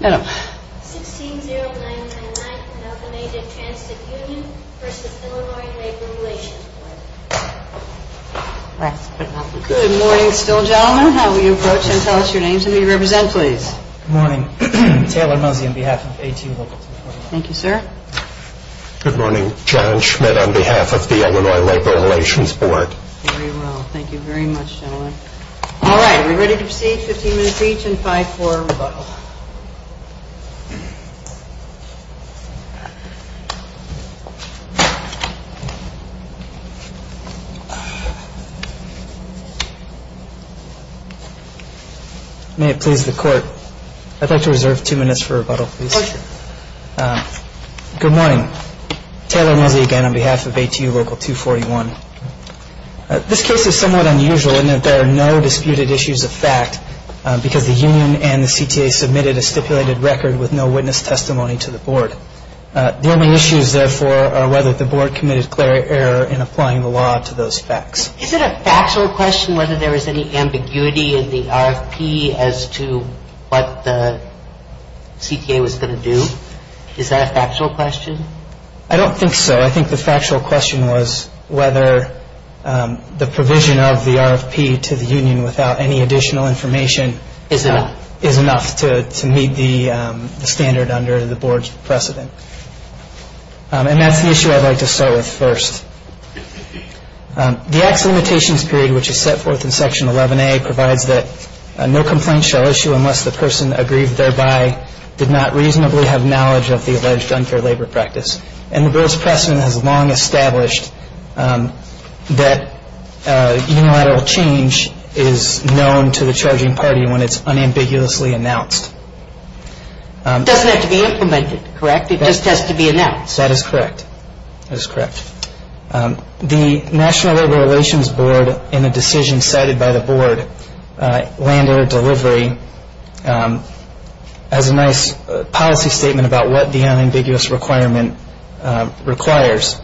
160999, Algamated Transit Union v. Illinois Labor Relations Board Good morning still gentlemen, how will you approach and tell us your names and who you represent please? Good morning, Taylor Mosey on behalf of ATU Local 249 Thank you sir Good morning, John Schmidt on behalf of the Illinois Labor Relations Board Very well, thank you very much gentlemen Alright, are we ready to proceed? 15 minutes each and 5 for rebuttal May it please the court, I'd like to reserve 2 minutes for rebuttal please For sure Good morning, Taylor Mosey again on behalf of ATU Local 241 This case is somewhat unusual in that there are no disputed issues of fact because the union and the CTA submitted a stipulated record with no witness testimony to the board The only issues therefore are whether the board committed clear error in applying the law to those facts Is it a factual question whether there was any ambiguity in the RFP as to what the CTA was going to do? Is that a factual question? I don't think so, I think the factual question was whether the provision of the RFP to the union without any additional information Is enough Is enough to meet the standard under the board's precedent And that's the issue I'd like to start with first The acts of limitations period which is set forth in section 11A provides that No complaint shall issue unless the person aggrieved thereby did not reasonably have knowledge of the alleged unfair labor practice And the board's precedent has long established that unilateral change is known to the charging party when it's unambiguously announced It doesn't have to be implemented, correct? It just has to be announced? That is correct, that is correct The National Labor Relations Board in a decision cited by the board, lander delivery Has a nice policy statement about what the unambiguous requirement requires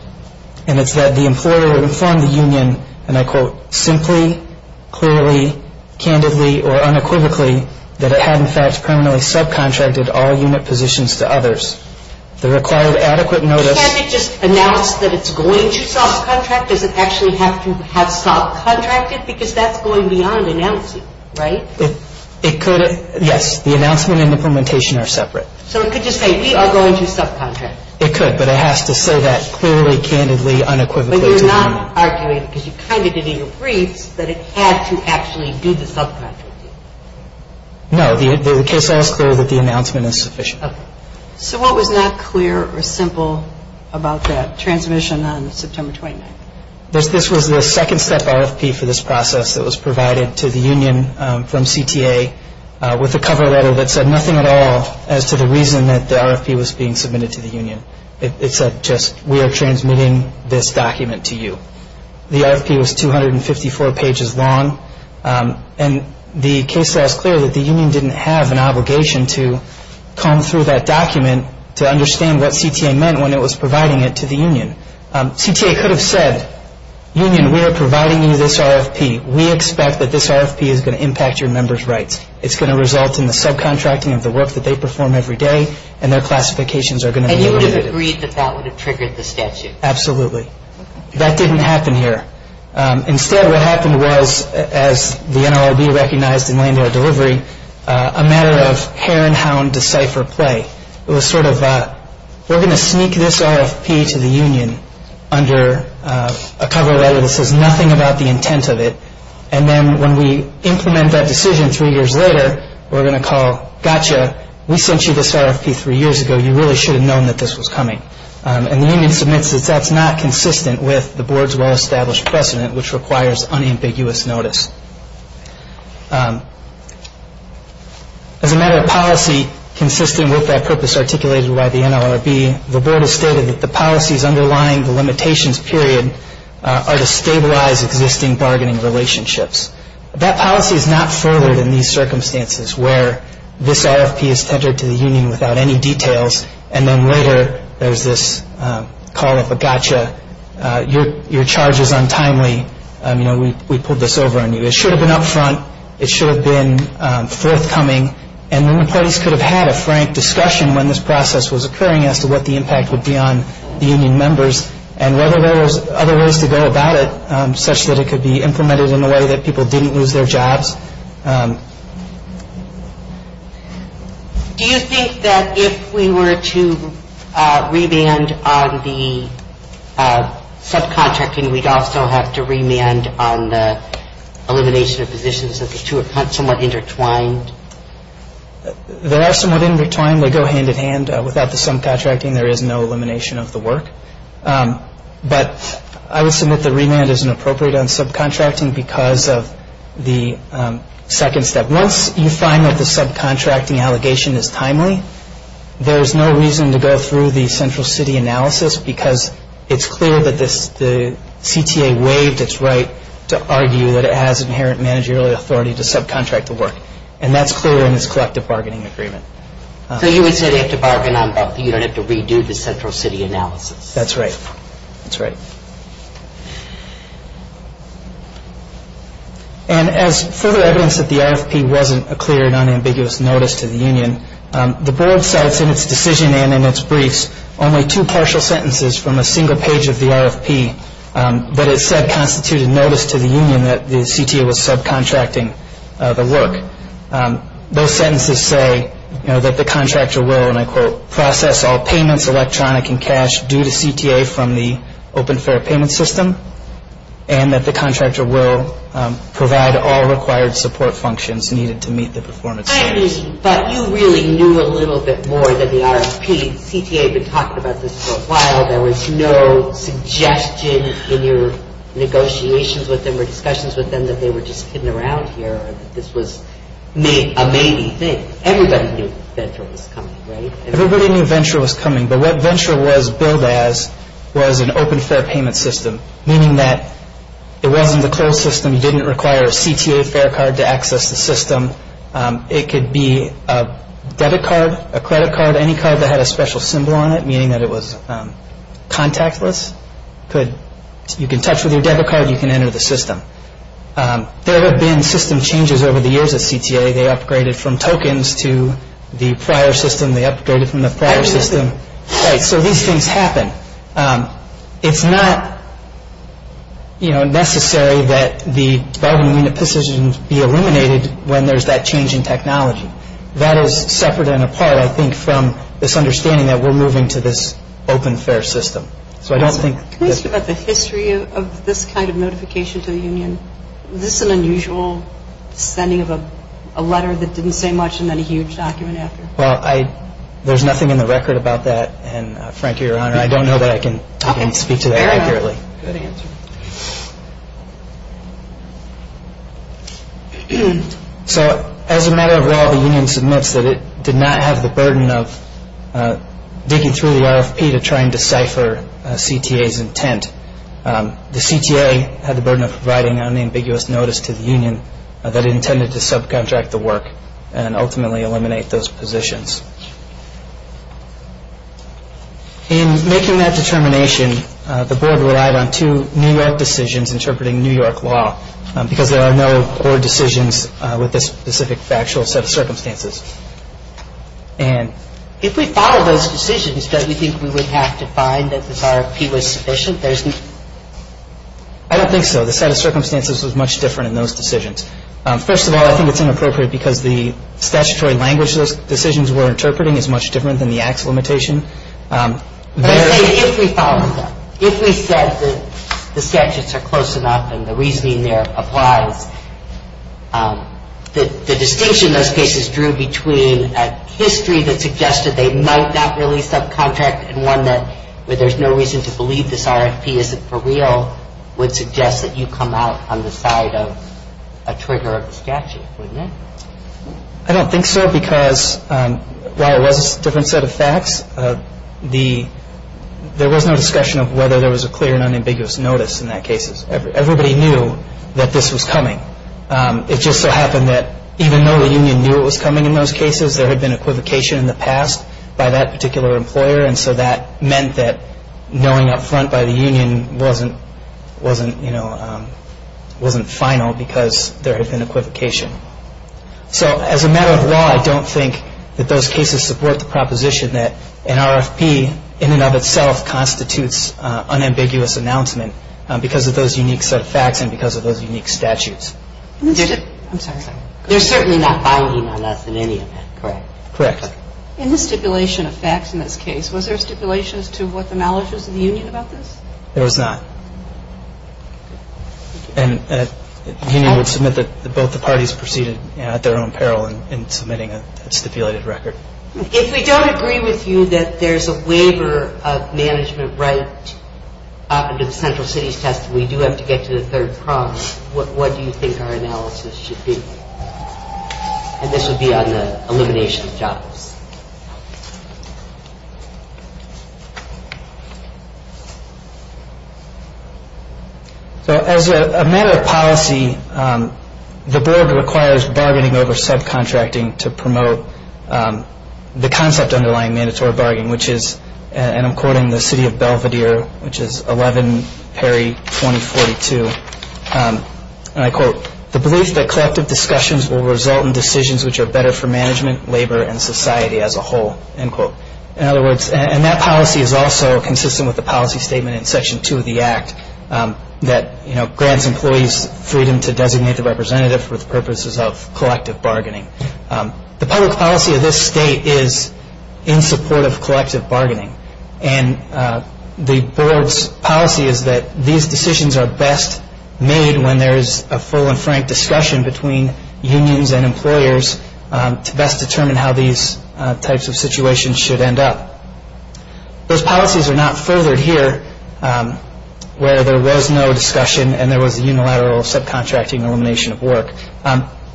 And it's that the employer would inform the union and I quote Simply, clearly, candidly or unequivocally that it had in fact permanently subcontracted all unit positions to others The required adequate notice Can't it just announce that it's going to subcontract? Does it actually have to have subcontracted because that's going beyond announcing, right? It could, yes, the announcement and implementation are separate So it could just say we are going to subcontract? It could, but it has to say that clearly, candidly, unequivocally to the union But you're not arguing because you kind of did in your briefs that it had to actually do the subcontracting No, the case is clear that the announcement is sufficient So what was not clear or simple about that transmission on September 29th? This was the second step RFP for this process that was provided to the union from CTA With a cover letter that said nothing at all as to the reason that the RFP was being submitted to the union It said just we are transmitting this document to you The RFP was 254 pages long And the case law is clear that the union didn't have an obligation to comb through that document To understand what CTA meant when it was providing it to the union CTA could have said, union, we are providing you this RFP We expect that this RFP is going to impact your members' rights It's going to result in the subcontracting of the work that they perform every day And their classifications are going to be limited And you would have agreed that that would have triggered the statute? Absolutely That didn't happen here Instead what happened was, as the NLRB recognized in land-air delivery A matter of hare and hound decipher play It was sort of, we are going to sneak this RFP to the union Under a cover letter that says nothing about the intent of it And then when we implement that decision three years later We are going to call, gotcha, we sent you this RFP three years ago You really should have known that this was coming And the union submits that that's not consistent with the board's well-established precedent Which requires unambiguous notice As a matter of policy, consistent with that purpose articulated by the NLRB The board has stated that the policies underlying the limitations period Are to stabilize existing bargaining relationships That policy is not furthered in these circumstances Where this RFP is tendered to the union without any details And then later there is this call of a gotcha Your charge is untimely, we pulled this over on you It should have been up front, it should have been forthcoming And when parties could have had a frank discussion when this process was occurring As to what the impact would be on the union members And whether there was other ways to go about it Such that it could be implemented in a way that people didn't lose their jobs Do you think that if we were to remand on the subcontracting We'd also have to remand on the elimination of positions That the two are somewhat intertwined? They are somewhat intertwined, they go hand in hand Without the subcontracting there is no elimination of the work But I would submit that remand isn't appropriate on subcontracting Because of the limitations of the subcontracting Second step, once you find that the subcontracting allegation is timely There is no reason to go through the central city analysis Because it's clear that the CTA waived its right to argue That it has inherent managerial authority to subcontract the work And that's clear in this collective bargaining agreement So you would say they have to bargain on both You don't have to redo the central city analysis That's right And as further evidence that the RFP wasn't a clear and unambiguous notice to the union The board cites in its decision and in its briefs Only two partial sentences from a single page of the RFP That it said constituted notice to the union that the CTA was subcontracting the work Those sentences say that the contractor will And I quote, process all payments electronic and cash due to CTA And that the contractor will provide all required support functions needed to meet the performance standards But you really knew a little bit more than the RFP CTA had been talking about this for a while There was no suggestion in your negotiations with them Or discussions with them that they were just kidding around here Or that this was a maybe thing Everybody knew venture was coming, right? Everybody knew venture was coming But what venture was billed as was an open fair payment system Meaning that it wasn't a closed system You didn't require a CTA fair card to access the system It could be a debit card, a credit card Any card that had a special symbol on it Meaning that it was contactless You can touch with your debit card You can enter the system There have been system changes over the years at CTA They upgraded from tokens to the prior system They upgraded from the prior system So these things happen It's not necessary that the bargaining decisions be illuminated when there's that change in technology That is separate and apart, I think, from this understanding that we're moving to this open fair system So I don't think Can we ask about the history of this kind of notification to the union? Was this an unusual sending of a letter that didn't say much and then a huge document after? Well, there's nothing in the record about that And frankly, Your Honor, I don't know that I can speak to that accurately So as a matter of law, the union submits that it did not have the burden of digging through the RFP to try and decipher CTA's intent The CTA had the burden of providing unambiguous notice to the union That intended to subcontract the work And ultimately eliminate those positions In making that determination, the board relied on two New York decisions interpreting New York law Because there are no board decisions with this specific factual set of circumstances If we follow those decisions, don't we think we would have to find that this RFP was sufficient? I don't think so The set of circumstances was much different in those decisions First of all, I think it's inappropriate because the statutory language those decisions were interpreting is much different than the act's limitation If we follow them, if we said that the statutes are close enough and the reasoning there applies The distinction those cases drew between a history that suggested they might not really subcontract And one where there's no reason to believe this RFP isn't for real Would suggest that you come out on the side of a trigger of the statute, wouldn't it? I don't think so because while it was a different set of facts There was no discussion of whether there was a clear and unambiguous notice in that case Everybody knew that this was coming It just so happened that even though the union knew it was coming in those cases There had been equivocation in the past by that particular employer And so that meant that knowing up front by the union wasn't final because there had been equivocation So as a matter of law, I don't think that those cases support the proposition that an RFP in and of itself constitutes unambiguous announcement Because of those unique set of facts and because of those unique statutes There's certainly not binding on us in any event, correct? Correct In the stipulation of facts in this case, was there stipulation as to what the knowledge was of the union about this? There was not And the union would submit that both the parties proceeded at their own peril in submitting a stipulated record If we don't agree with you that there's a waiver of management right under the central cities test And we do have to get to the third prong, what do you think our analysis should be? And this would be on the elimination of jobs So as a matter of policy, the board requires bargaining over subcontracting to promote the concept underlying mandatory bargaining Which is, and I'm quoting the city of Belvedere, which is 11 Perry 2042 And I quote, the belief that collective discussions will result in decisions which are better for management, labor and society as a whole In other words, and that policy is also consistent with the policy statement in section 2 of the act That grants employees freedom to designate the representative for the purposes of collective bargaining The public policy of this state is in support of collective bargaining And the board's policy is that these decisions are best made when there is a full and frank discussion between unions and employers To best determine how these types of situations should end up Those policies are not furthered here where there was no discussion and there was a unilateral subcontracting elimination of work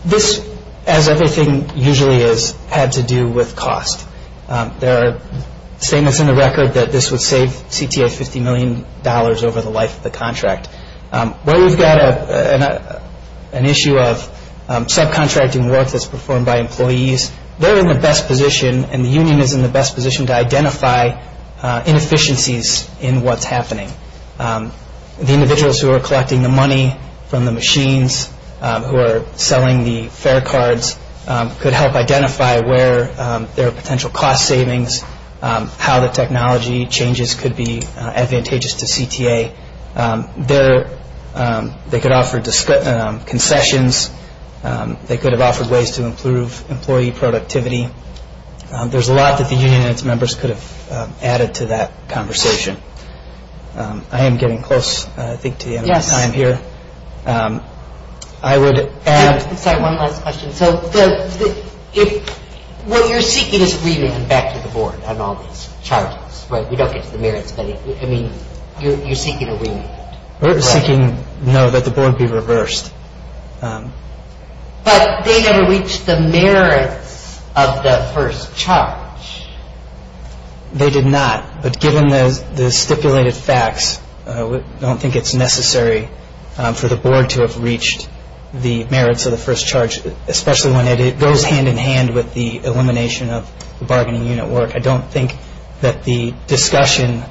This, as everything usually is, had to do with cost There are statements in the record that this would save CTA $50 million over the life of the contract Where we've got an issue of subcontracting work that's performed by employees They're in the best position and the union is in the best position to identify inefficiencies in what's happening The individuals who are collecting the money from the machines who are selling the fare cards Could help identify where there are potential cost savings How the technology changes could be advantageous to CTA They could offer concessions They could have offered ways to improve employee productivity There's a lot that the union and its members could have added to that conversation I am getting close, I think, to the end of my time here Sorry, one last question What you're seeking is a remit back to the board on all these charges We don't get to the merits of any You're seeking a remit We're seeking, no, that the board be reversed But they never reached the merits of the first charge They did not But given the stipulated facts, I don't think it's necessary for the board to have reached the merits of the first charge Especially when it goes hand in hand with the elimination of the bargaining unit work I don't think that the discussion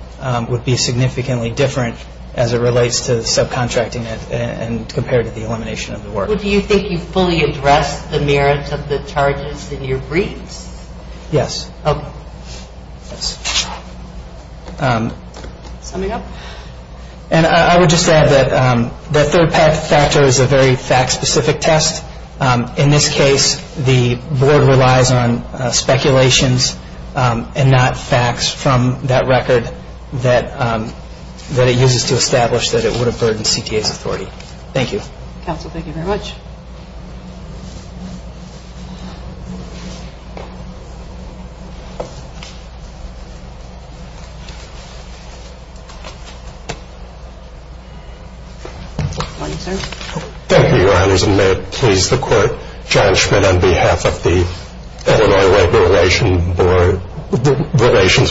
would be significantly different as it relates to subcontracting it And compared to the elimination of the work Do you think you fully addressed the merits of the charges in your briefs? Yes Summing up? I would just add that the third factor is a very fact-specific test In this case, the board relies on speculations and not facts from that record That it uses to establish that it would have burdened CTA's authority Thank you Counsel, thank you very much Thank you, Your Honors And may it please the Court, John Schmitt on behalf of the Illinois Labor Relations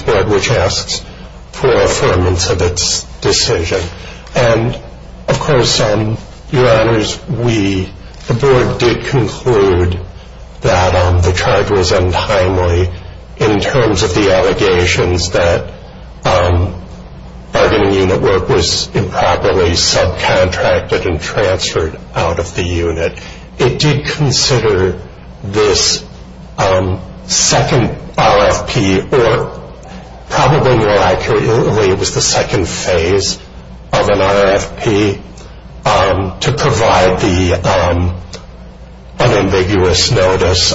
Board Which asks for affirmance of its decision And, of course, Your Honors, the board did conclude that the charges untimely In terms of the allegations that bargaining unit work was improperly subcontracted and transferred out of the unit It did consider this second RFP, or probably more accurately, it was the second phase of an RFP To provide the unambiguous notice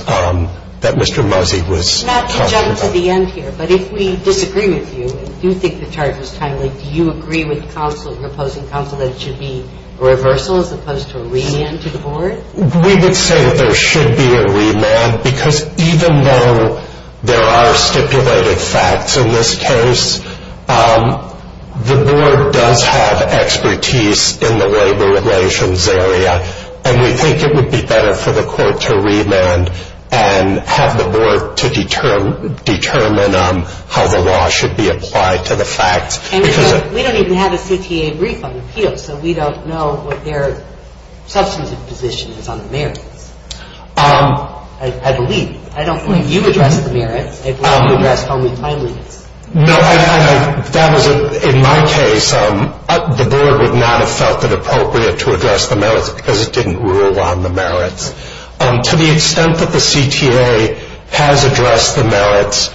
that Mr. Muzzi was talking about Not to jump to the end here, but if we disagree with you and do think the charge was timely Do you agree with counsel, your opposing counsel, that it should be a reversal as opposed to a remand to the board? We would say that there should be a remand Because even though there are stipulated facts in this case The board does have expertise in the labor relations area And we think it would be better for the court to remand And have the board to determine how the law should be applied to the facts And we don't even have a CTA brief on appeals So we don't know what their substantive position is on the merits I believe, I don't believe you addressed the merits I believe you addressed only timeliness No, in my case, the board would not have felt it appropriate to address the merits Because it didn't rule on the merits To the extent that the CTA has addressed the merits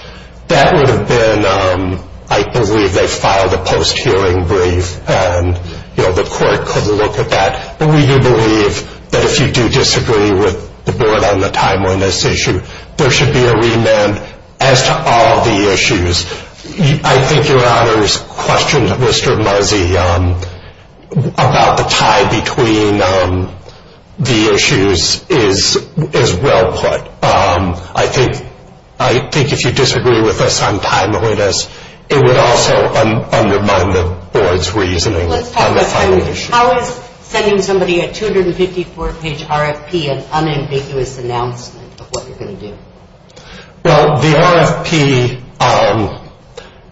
That would have been, I believe they filed a post-hearing brief And the court could look at that But we do believe that if you do disagree with the board on the timeliness issue There should be a remand as to all the issues I think your honor's question to Mr. Marzi About the tie between the issues is well put I think if you disagree with us on timeliness It would also undermine the board's reasoning on the final issue How is sending somebody a 254 page RFP An unambiguous announcement of what you're going to do Well, the RFP,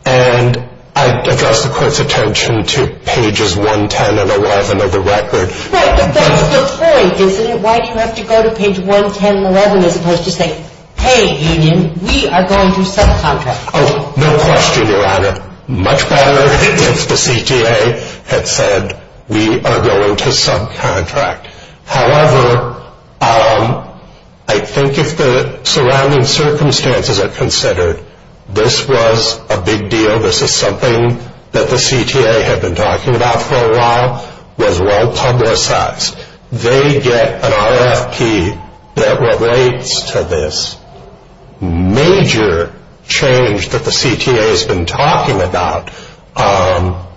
and I address the court's attention to pages 110 and 11 of the record But that's the point, isn't it? Why do you have to go to page 110 and 11 as opposed to saying Hey, union, we are going to subcontract Oh, no question, your honor Much better if the CTA had said we are going to subcontract However, I think if the surrounding circumstances are considered This was a big deal, this is something that the CTA had been talking about for a while Was well publicized They get an RFP that relates to this Major change that the CTA has been talking about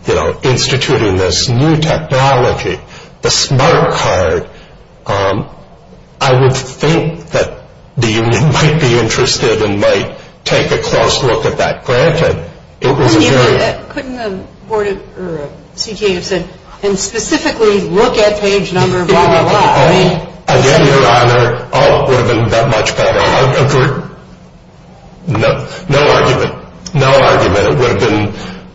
You know, instituting this new technology The smart card I would think that the union might be interested and might take a close look at that Granted, it was a very Couldn't the board or CTA have said And specifically look at page number blah blah blah Again, your honor, all of it would have been that much better No argument, no argument It would have been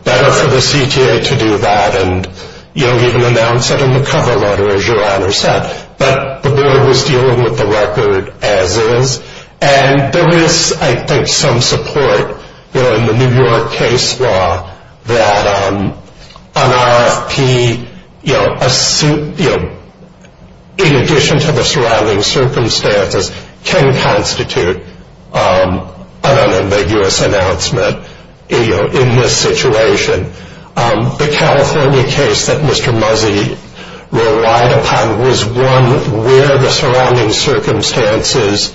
better for the CTA to do that And even announce it in the cover letter, as your honor said But the board was dealing with the record as is And there is, I think, some support In the New York case law That an RFP, in addition to the surrounding circumstances Can constitute an ambiguous announcement in this situation The California case that Mr. Muzzi relied upon Was one where the surrounding circumstances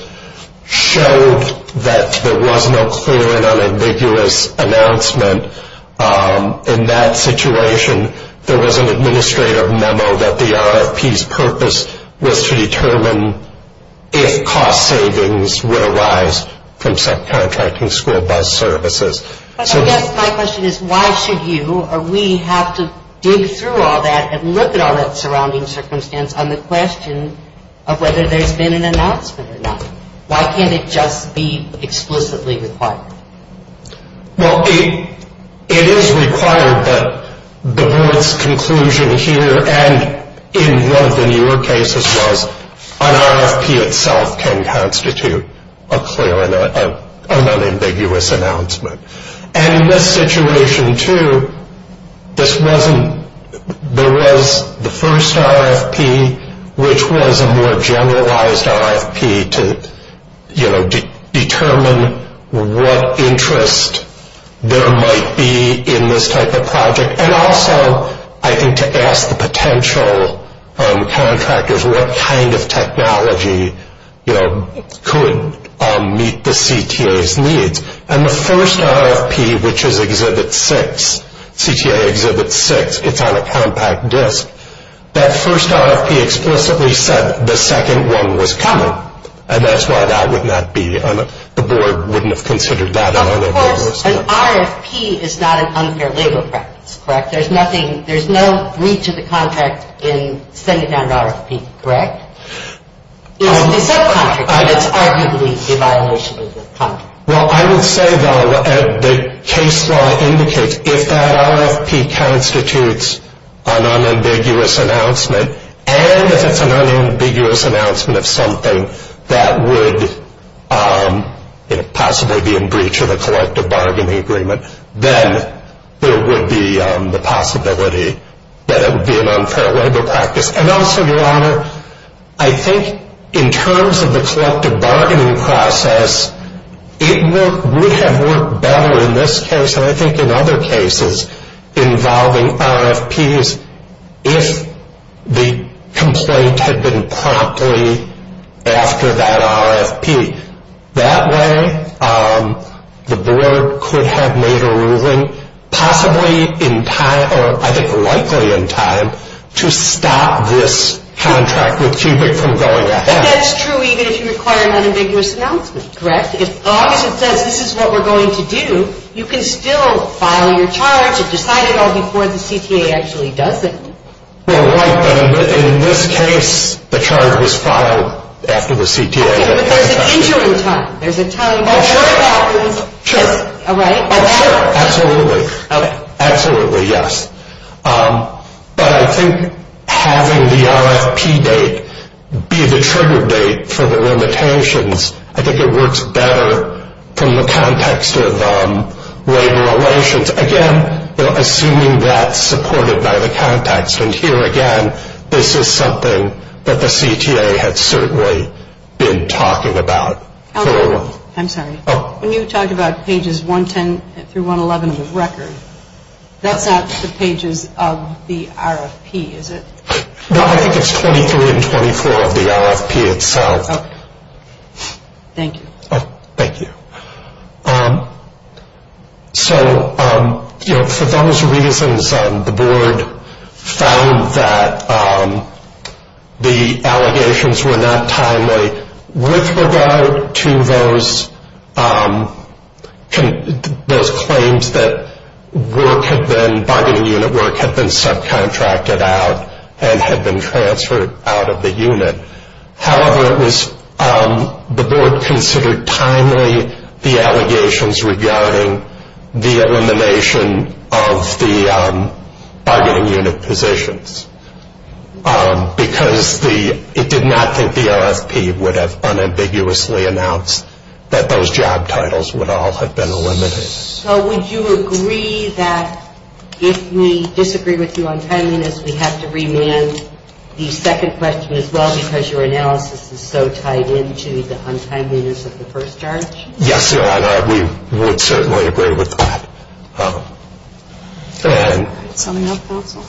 Showed that there was no clear and unambiguous announcement In that situation, there was an administrative memo That the RFP's purpose was to determine If cost savings would arise from subcontracting school bus services I guess my question is, why should you Or we have to dig through all that And look at all that surrounding circumstance On the question of whether there's been an announcement or not Why can't it just be explicitly required? Well, it is required that the board's conclusion here And in one of the New York cases was An RFP itself can constitute a clear and unambiguous announcement And in this situation, too, there was the first RFP Which was a more generalized RFP To determine what interest there might be in this type of project And also, I think, to ask the potential contractors And the first RFP, which is Exhibit 6 CTA Exhibit 6, it's on a compact disc That first RFP explicitly said the second one was coming And that's why that would not be The board wouldn't have considered that Of course, an RFP is not an unfair legal practice, correct? There's no breach of the contract in sending down an RFP, correct? It's a subcontract, but it's arguably a violation of the contract Well, I would say, though, the case law indicates If that RFP constitutes an unambiguous announcement And if it's an unambiguous announcement of something That would possibly be in breach of the collective bargaining agreement Then there would be the possibility That it would be an unfair legal practice And also, Your Honor, I think in terms of the collective bargaining process It would have worked better in this case And I think in other cases involving RFPs If the complaint had been promptly after that RFP That way, the board could have made a ruling Possibly in time, or I think likely in time To stop this contract with Cubic from going ahead I think that's true even if you require an unambiguous announcement, correct? As long as it says this is what we're going to do You can still file your charge And decide it all before the CTA actually does it Well, right, but in this case, the charge was filed after the CTA Okay, but there's an entering time There's a time before it happens, right? Oh, sure, absolutely Absolutely, yes But I think having the RFP date be the trigger date for the limitations I think it works better from the context of labor relations Again, assuming that's supported by the context And here again, this is something that the CTA had certainly been talking about I'm sorry That's not the pages of the RFP, is it? No, I think it's 23 and 24 of the RFP itself Okay, thank you Oh, thank you So, you know, for those reasons The board found that the allegations were not timely With regard to those claims that work had been Bargaining unit work had been subcontracted out And had been transferred out of the unit However, the board considered timely the allegations Regarding the elimination of the bargaining unit positions Because it did not think the RFP would have unambiguously announced That those job titles would all have been eliminated So, would you agree that if we disagree with you on timeliness We have to remand the second question as well Because your analysis is so tied into the untimeliness of the first charge? Yes, Your Honor, we would certainly agree with that Go ahead Something else, counsel?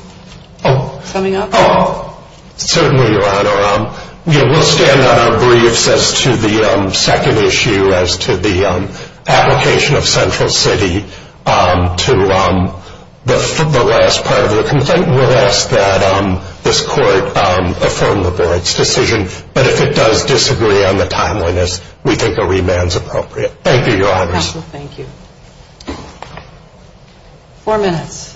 Coming up? Certainly, Your Honor We'll stand on our briefs as to the second issue As to the application of Central City to the last part of the complaint We'll ask that this court affirm the board's decision But if it does disagree on the timeliness We think a remand is appropriate Thank you, Your Honors Counsel, thank you Four minutes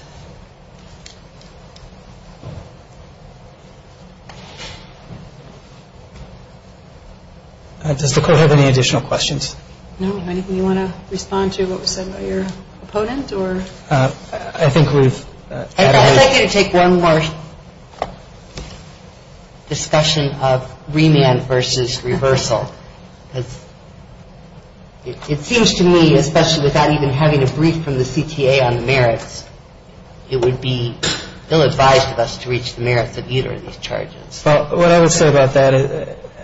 Does the court have any additional questions? No, anything you want to respond to? What was said by your opponent? I think we've added I'd like you to take one more discussion of remand versus reversal It seems to me, especially without even having a brief from the CTA on the merits It would be ill-advised of us to reach the merits of either of these charges Well, what I would say about that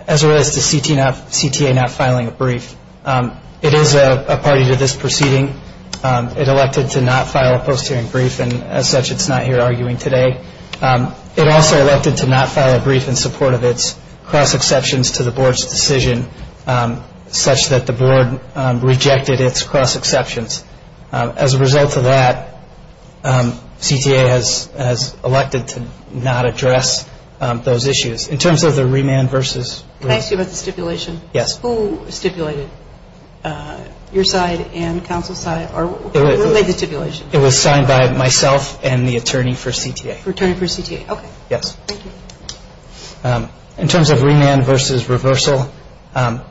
As it relates to CTA not filing a brief It is a party to this proceeding It elected to not file a post-hearing brief And as such, it's not here arguing today It also elected to not file a brief in support of its Cross-exceptions to the board's decision Such that the board rejected its cross-exceptions As a result of that CTA has elected to not address those issues In terms of the remand versus Can I ask you about the stipulation? Yes Who stipulated? Your side and counsel's side? What made the stipulation? It was signed by myself and the attorney for CTA Attorney for CTA, okay Yes Thank you In terms of remand versus reversal The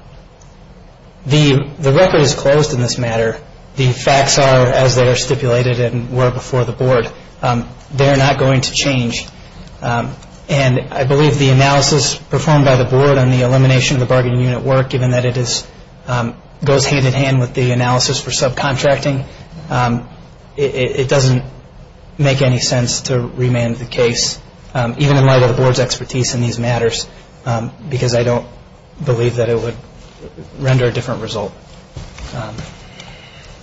record is closed in this matter The facts are as they are stipulated and were before the board They are not going to change And I believe the analysis performed by the board On the elimination of the bargaining unit work Given that it goes hand-in-hand with the analysis for subcontracting It doesn't make any sense to remand the case Even in light of the board's expertise in these matters Because I don't believe that it would render a different result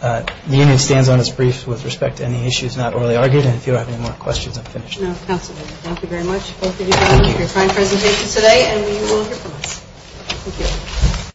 The unit stands on its brief with respect to any issues not orally argued And if you don't have any more questions, I'm finished No, counsel, thank you very much Both of you have done a very fine presentation today And we will hear from you Thank you